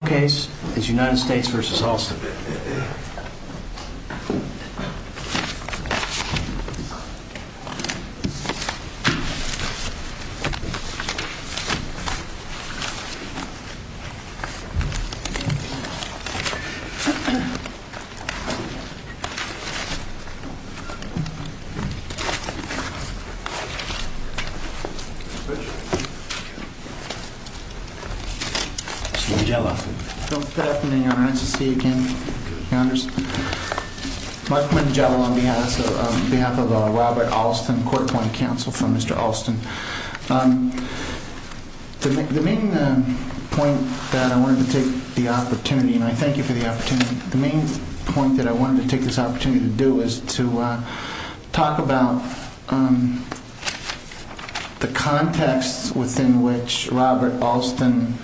The second case is United States v. Halston. The third case is United States v. Halston. The main point that I wanted to take this opportunity to do is to talk about the context within which Robert Halston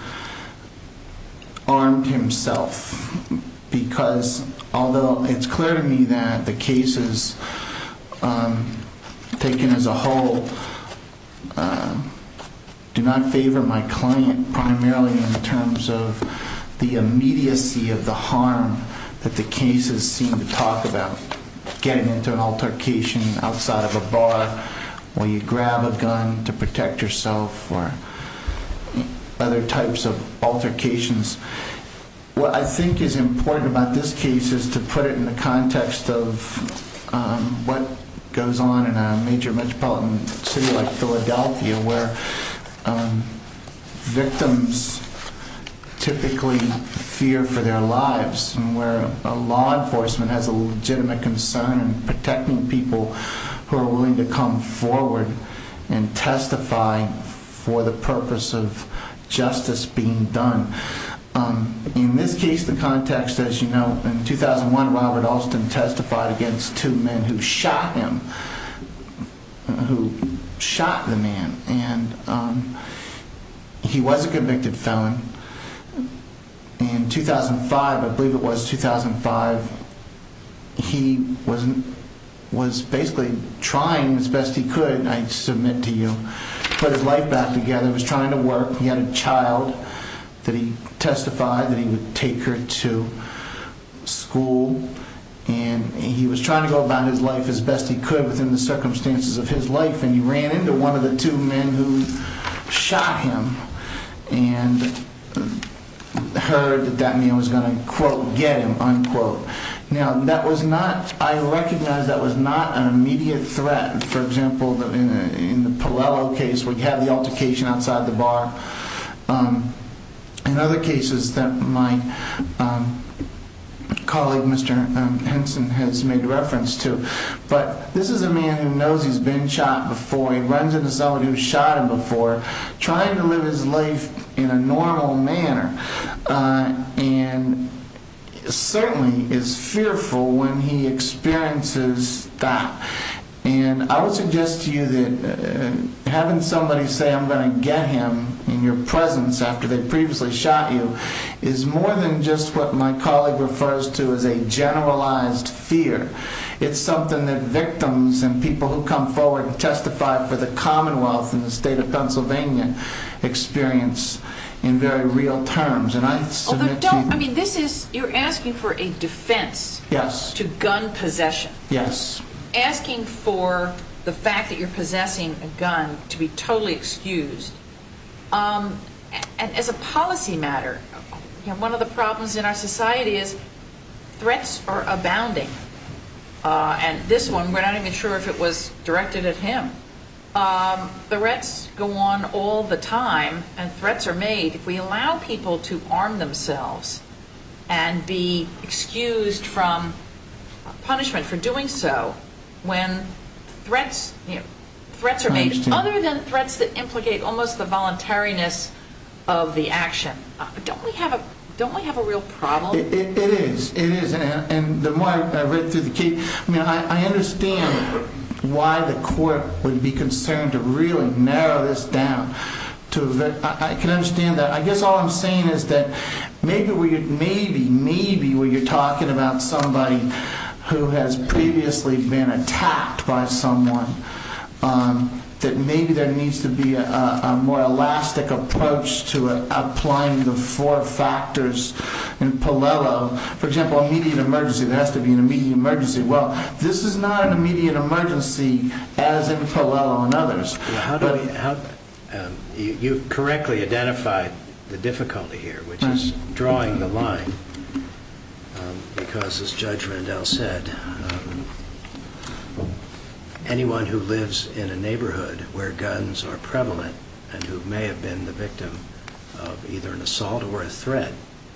armed himself, because although it's clear to me that the cases taken as a whole do not favor my client primarily in terms of the immediacy of the harm that the cases seem to talk about, getting into an altercation outside of a bar where you grab a gun to protect yourself or other types of altercations, what I think is important about this case is to put it in the context of what goes on in a major metropolitan city like Philadelphia where victims typically fear for their lives and where law enforcement has a legitimate concern in protecting people who are willing to come forward and testify for the purpose of justice being done. In this case, the context, as you know, in 2001, Robert Halston testified against two men who shot him, who shot the man, and he was a convicted felon. In 2005, I believe it was 2005, he was basically trying as best he could, I submit to you, to put his life back together, he was trying to work, he had a child that he testified that he would take her to school, and he was trying to go about his life as best he could within the circumstances of his life, and he ran into one of the two men who shot him, and heard that that man was going to quote, get him, unquote. Now, that was not, I recognize that was not an immediate threat, for example, in the Pallello case, we have the altercation outside the bar, in other cases that my colleague, Mr. Henson, has made reference to, but this is a man who knows he's been shot before, he is trying to live his life in a normal manner, and certainly is fearful when he experiences that, and I would suggest to you that having somebody say I'm going to get him in your presence after they've previously shot you, is more than just what my colleague refers to as a generalized fear, it's something that victims and people who come forward and testify for the commonwealth and the state of Pennsylvania experience in very real terms, and I submit to you... Although don't, I mean this is, you're asking for a defense to gun possession, asking for the fact that you're possessing a gun to be totally excused, as a policy matter, one of the problems in our society is threats are abounding, and this one, we're not even sure if it was directed at him, threats go on all the time, and threats are made, if we allow people to arm themselves and be excused from punishment for doing so, when threats are made other than threats that implicate almost the voluntariness of the action, don't we have a real problem? It is, it is, and the more I read through the case, I mean I understand why the court would be concerned to really narrow this down, I can understand that, I guess all I'm saying is that maybe, maybe, maybe when you're talking about somebody who has previously been attacked by someone, that maybe there needs to be a more elastic approach to applying the four For example, an immediate emergency, there has to be an immediate emergency, well, this is not an immediate emergency as in Tolello and others. You correctly identified the difficulty here, which is drawing the line, because as Judge Rendell said, anyone who lives in a neighborhood where guns are prevalent, and who may have been the victim of either an assault or a threat,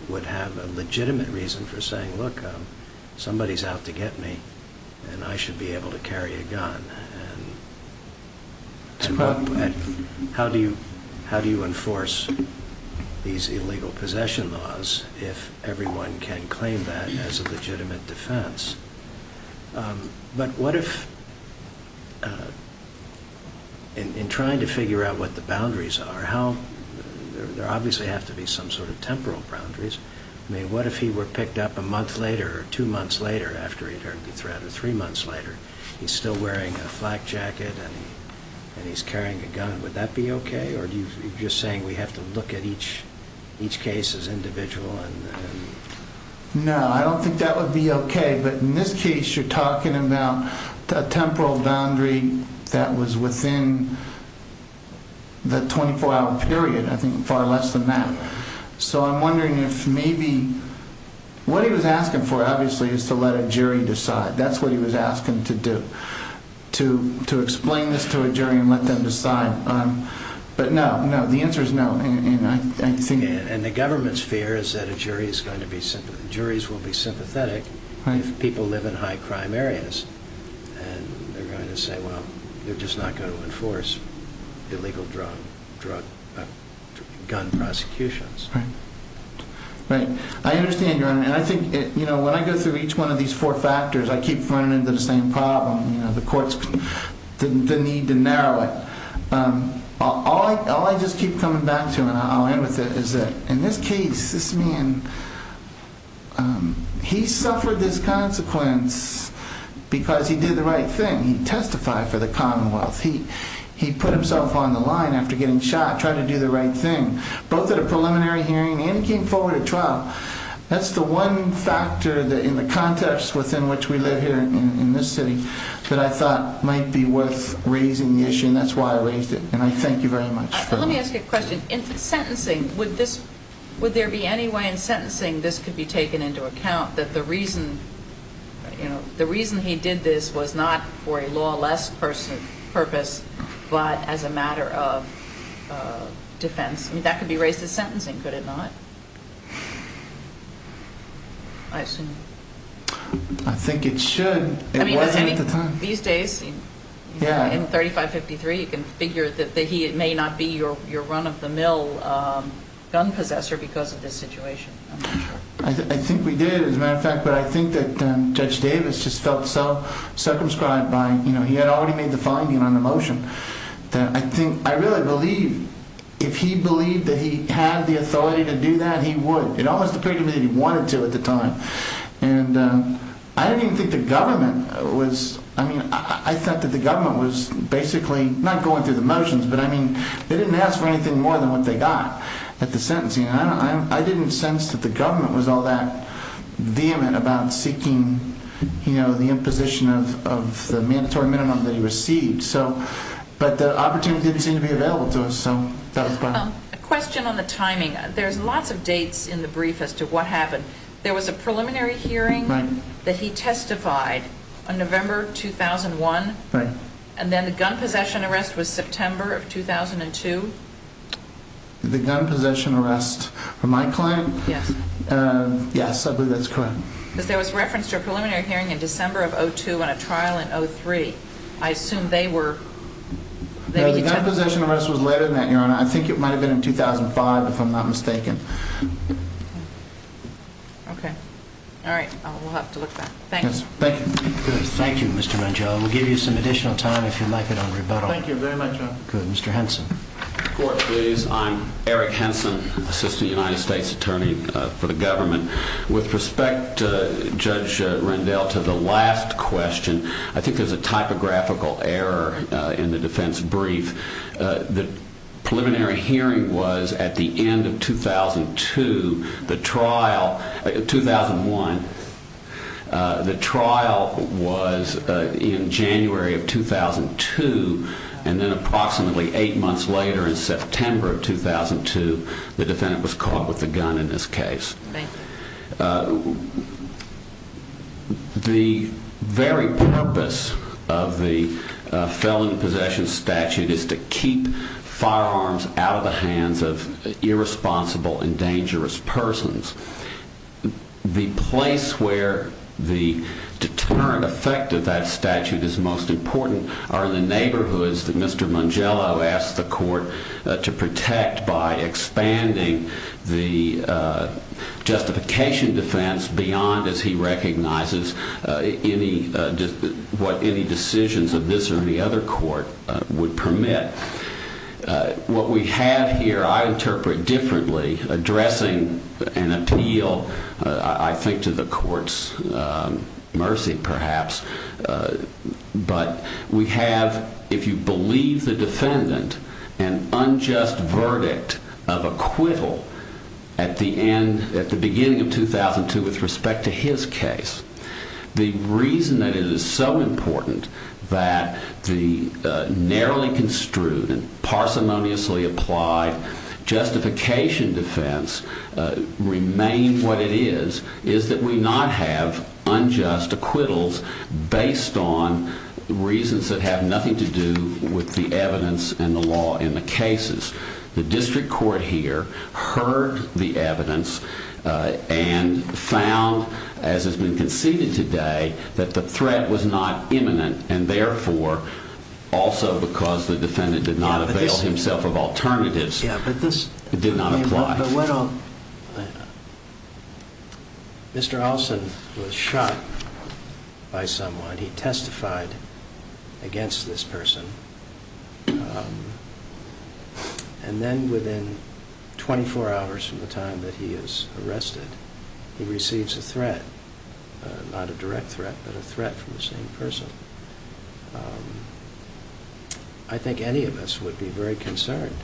would have a legitimate reason for saying, look, somebody's out to get me, and I should be able to carry a gun, and how do you enforce these illegal possession laws if everyone can claim that as a legitimate defense? But what if, in trying to figure out what the boundaries are, how, there obviously have to be some sort of temporal boundaries, I mean, what if he were picked up a month later, or two months later after he'd heard the threat, or three months later, he's still wearing a flak jacket, and he's carrying a gun, would that be okay, or are you just saying we have to look at each case as individual, and? No, I don't think that would be okay, but in this case, you're talking about a temporal boundary that was within the 24-hour period, I think far less than that. So I'm wondering if maybe, what he was asking for, obviously, is to let a jury decide, that's what he was asking to do, to explain this to a jury and let them decide, but no, no, the answer is no. And the government's fear is that a jury is going to be, juries will be sympathetic if people live in high-crime areas, and they're going to say, well, they're just not going to enforce illegal drug, gun prosecutions. Right, right. I understand, Your Honor, and I think, you know, when I go through each one of these four factors, I keep running into the same problem, you know, the courts, the need to I'll end with it, is that in this case, this man, he suffered this consequence because he did the right thing, he testified for the Commonwealth, he put himself on the line after getting shot, tried to do the right thing, both at a preliminary hearing and he came forward at trial, that's the one factor in the context within which we live here in this city that I thought might be worth raising the issue, and that's why I raised it, and I thank you very much. Let me ask you a question, in sentencing, would this, would there be any way in sentencing this could be taken into account, that the reason, you know, the reason he did this was not for a lawless purpose, but as a matter of defense, I mean, that could be raised as sentencing, could it not? I assume. I think it should. It wasn't at the time. And these days, in 3553, you can figure that he may not be your run-of-the-mill gun possessor because of this situation, I'm not sure. I think we did, as a matter of fact, but I think that Judge Davis just felt so circumscribed by, you know, he had already made the finding on the motion, that I think, I really believe if he believed that he had the authority to do that, he would. It almost appeared to me that he wanted to at the time, and I didn't even think the government was, I mean, I thought that the government was basically, not going through the motions, but I mean, they didn't ask for anything more than what they got at the sentencing. I didn't sense that the government was all that vehement about seeking, you know, the imposition of the mandatory minimum that he received. But the opportunity didn't seem to be available to us, so that was fine. A question on the timing. There's lots of dates in the brief as to what happened. There was a preliminary hearing that he testified on November 2001, and then the gun possession arrest was September of 2002. The gun possession arrest for my client? Yes. Yes, I believe that's correct. Because there was reference to a preliminary hearing in December of 2002 and a trial in 2003. I assume they were... Well, the gun possession arrest was later than that, Your Honor. I think it might have been in 2005, if I'm not mistaken. Okay. All right. We'll have to look back. Thank you. Thank you. Good. Thank you, Mr. Menchel. We'll give you some additional time if you'd like it on rebuttal. Thank you very much, Your Honor. Good. Mr. Henson. Court, please. I'm Eric Henson, Assistant United States Attorney for the government. With respect to Judge Rendell, to the last question, I think there's a typographical error in the defense brief. The preliminary hearing was at the end of 2002. The trial, 2001, the trial was in January of 2002, and then approximately eight months later in September of 2002, the defendant was caught with a gun in this case. Thank you. The very purpose of the felon possession statute is to keep firearms out of the hands of irresponsible and dangerous persons. The place where the deterrent effect of that statute is most important are the neighborhoods that Mr. Mangello asked the court to protect by expanding the justification defense beyond, as he recognizes, what any decisions of this or any other court would permit. What we have here, I interpret differently, addressing an appeal, I think, to the court's mercy, perhaps. But we have, if you believe the defendant, an unjust verdict of acquittal at the end, at the beginning of 2002 with respect to his case. The reason that it is so important that the narrowly construed and parsimoniously applied justification defense remain what it is, is that we not have unjust acquittals based on reasons that have nothing to do with the evidence and the law in the cases. The district court here heard the evidence and found, as has been conceded today, that the threat was not imminent, and therefore, also because the defendant did not avail himself of alternatives, it did not apply. Mr. Olson was shot by someone. He testified against this person. And then within 24 hours from the time that he is arrested, he receives a threat, not a direct threat, but a threat from the same person. And I think any of us would be very concerned.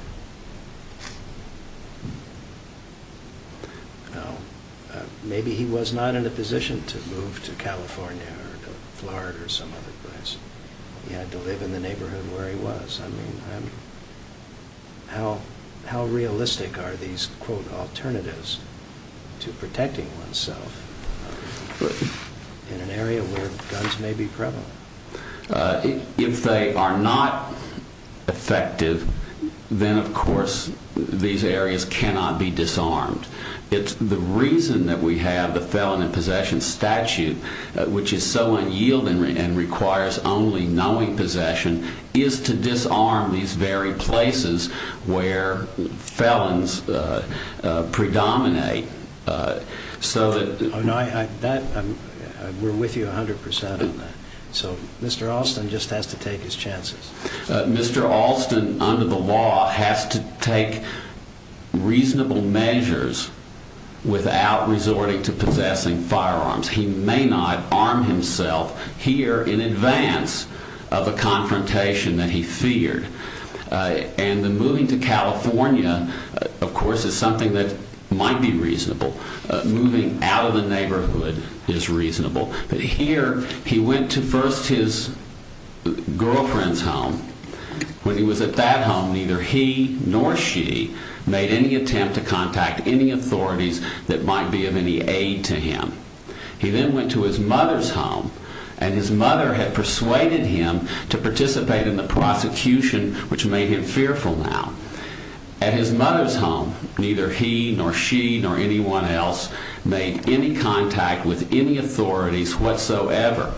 Maybe he was not in a position to move to California or Florida or some other place. He had to live in the neighborhood where he was. How realistic are these, quote, alternatives to protecting oneself in an area where guns may be prevalent? If they are not effective, then, of course, these areas cannot be disarmed. The reason that we have the Felon in Possession statute, which is so unyielding and requires only knowing possession, is to disarm these very places where felons predominate. We're with you 100 percent on that. So Mr. Olson just has to take his chances. Mr. Olson, under the law, has to take reasonable measures without resorting to possessing firearms. He may not arm himself here in advance of a confrontation that he feared. And the moving to California, of course, is something that might be reasonable. Moving out of the neighborhood is reasonable. But here, he went to first his girlfriend's home. When he was at that home, neither he nor she made any attempt to contact any authorities that might be of any aid to him. He then went to his mother's home, and his mother had persuaded him to participate in the prosecution, which made him fearful now. At his mother's home, neither he nor she nor anyone else made any contact with any authorities whatsoever.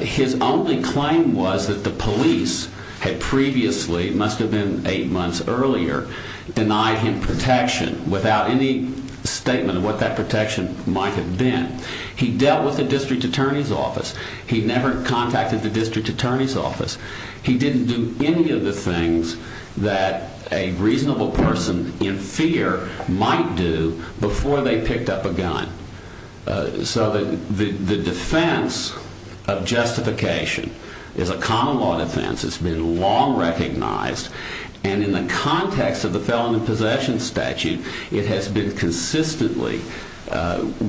His only claim was that the police had previously, it must have been eight months earlier, denied him protection without any statement of what that protection might have been. He dealt with the district attorney's office. He never contacted the district attorney's office. He didn't do any of the things that a reasonable person in fear might do before they picked up a gun. So the defense of justification is a common law defense. It's been long recognized. And in the context of the felon in possession statute, it has been consistently,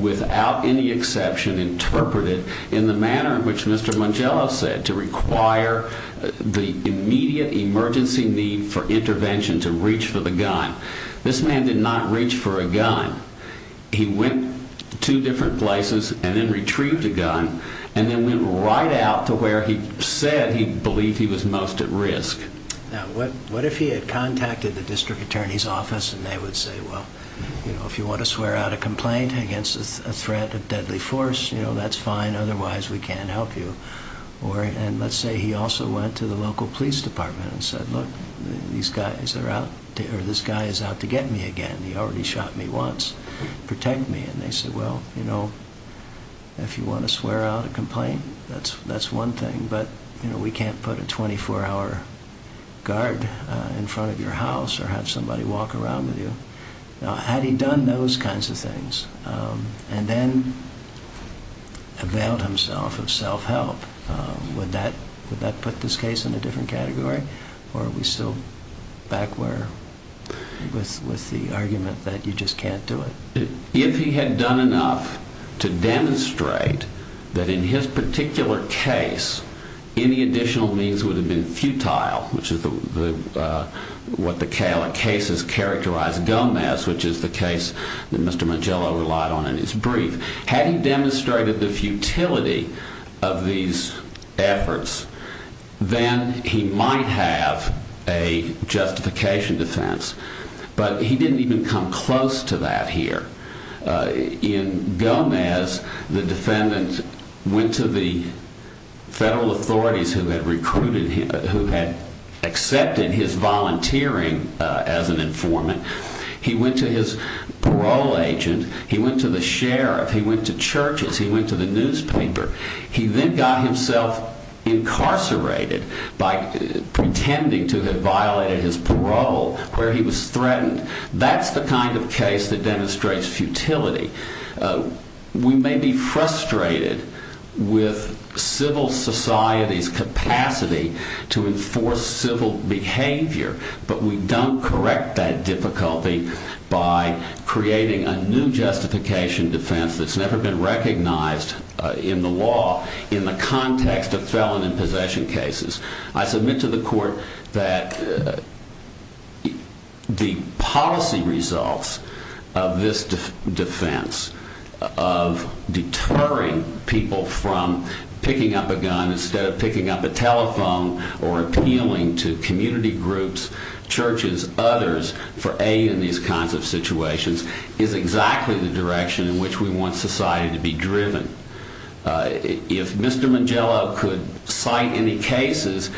without any exception, interpreted in the manner in which Mr. Mongello said, to require the immediate emergency need for intervention to reach for the gun. This man did not reach for a gun. He went to different places and then retrieved a gun and then went right out to where he said he believed he was most at risk. Now, what if he had contacted the district attorney's office and they would say, well, if you want to swear out a complaint against a threat of deadly force, that's fine. Otherwise, we can't help you. And let's say he also went to the local police department and said, look, this guy is out to get me again. He already shot me once. Protect me. And they said, well, if you want to swear out a complaint, that's one thing. But we can't put a 24-hour guard in front of your house or have somebody walk around with you. Had he done those kinds of things and then availed himself of self-help, would that put this case in a different category? Or are we still back where with the argument that you just can't do it? If he had done enough to demonstrate that in his particular case, any additional means would have been futile, which is what the case has characterized Gomez, which is the case that Mr. Mangello relied on in his brief. Had he demonstrated the futility of these efforts, then he might have a justification defense. But he didn't even come close to that here. In Gomez, the defendant went to the federal authorities who had recruited him, who had accepted his volunteering as an informant. He went to his parole agent. He went to the sheriff. He went to churches. He went to the newspaper. He then got himself incarcerated by pretending to have violated his parole where he was threatened. That's the kind of case that demonstrates futility. We may be frustrated with civil society's capacity to enforce civil behavior, but we don't correct that difficulty by creating a new justification defense that's never been recognized in the law in the context of felon and possession cases. I submit to the court that the policy results of this defense of deterring people from picking up a gun instead of picking up a telephone or appealing to community groups, churches, others for aid in these kinds of situations is exactly the direction in which we want society to be driven. If Mr. Mangiello could cite any cases,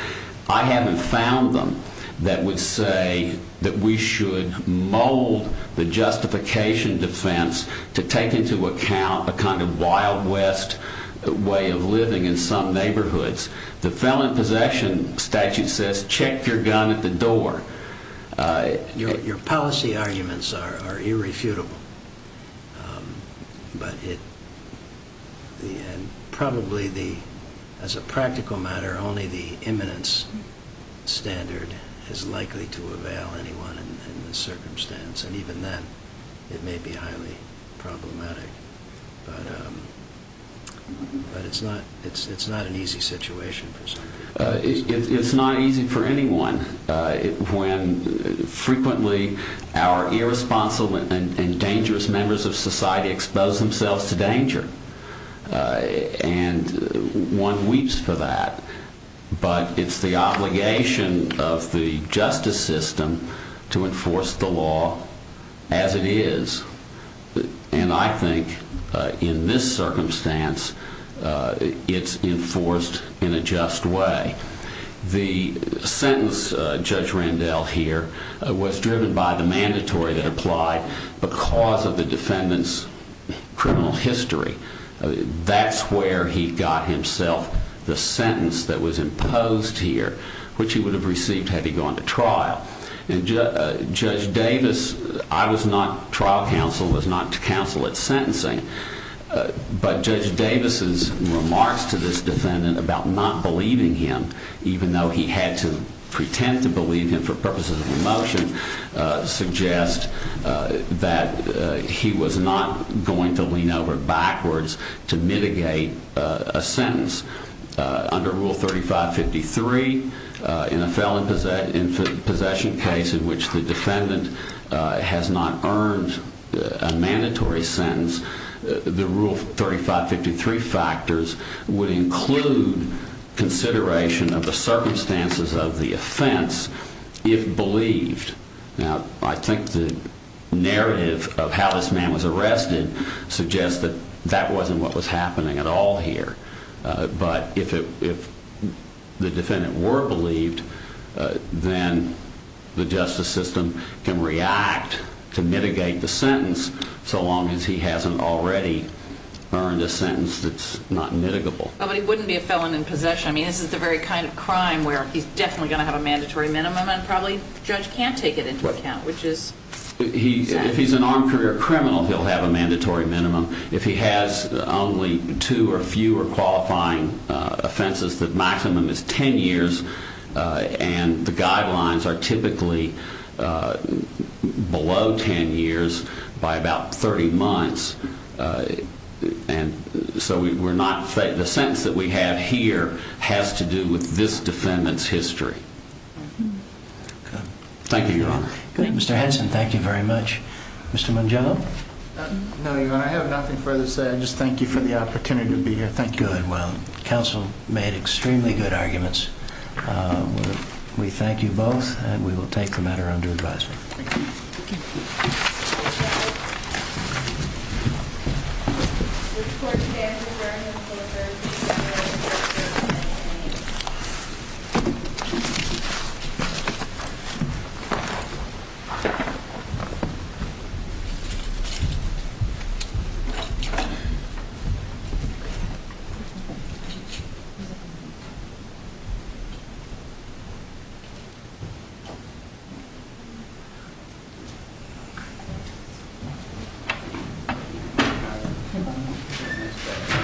I haven't found them that would say that we should mold the justification defense to take into account a kind of wild west way of living in some neighborhoods. The felon and possession statute says check your gun at the door. Your policy arguments are irrefutable, but probably as a practical matter, only the imminence standard is likely to avail anyone in this circumstance. Even then, it may be highly problematic, but it's not an easy situation. It's not easy for anyone. Frequently, our irresponsible and dangerous members of society expose themselves to danger. One weeps for that, but it's the obligation of the justice system to enforce the law as it is. I think in this circumstance, it's enforced in a just way. The sentence, Judge Randell here, was driven by the mandatory that applied because of the defendant's criminal history. That's where he got himself the sentence that was imposed here, which he would have received had he gone to trial. Judge Davis, I was not trial counsel, was not counsel at sentencing, but Judge Davis' remarks to this defendant about not believing him, even though he had to pretend to believe him for purposes of a motion, suggest that he was not going to lean over backwards to mitigate a sentence. Under Rule 3553, in a felon in possession case in which the defendant has not earned a mandatory sentence, the Rule 3553 factors would include consideration of the circumstances of the offense if believed. I think the narrative of how this man was arrested suggests that that wasn't what was happening at all here. But if the defendant were believed, then the justice system can react to mitigate the sentence, so long as he hasn't already earned a sentence that's not mitigable. But he wouldn't be a felon in possession. I mean, this is the very kind of crime where he's definitely going to have a mandatory minimum, and probably the judge can't take it into account, which is sad. If he's an armed career criminal, he'll have a mandatory minimum. If he has only two or fewer qualifying offenses, the maximum is 10 years, and the guidelines are typically below 10 years by about 30 months. So the sentence that we have here has to do with this defendant's history. Thank you, Your Honor. Mr. Henson, thank you very much. Mr. Mungello? No, Your Honor, I have nothing further to say. I just thank you for the opportunity to be here. Thank you. Good. Well, counsel made extremely good arguments. We thank you both, and we will take the matter under advisement. Thank you. The court stands adjourned until the 3rd of December, 2018. Thank you.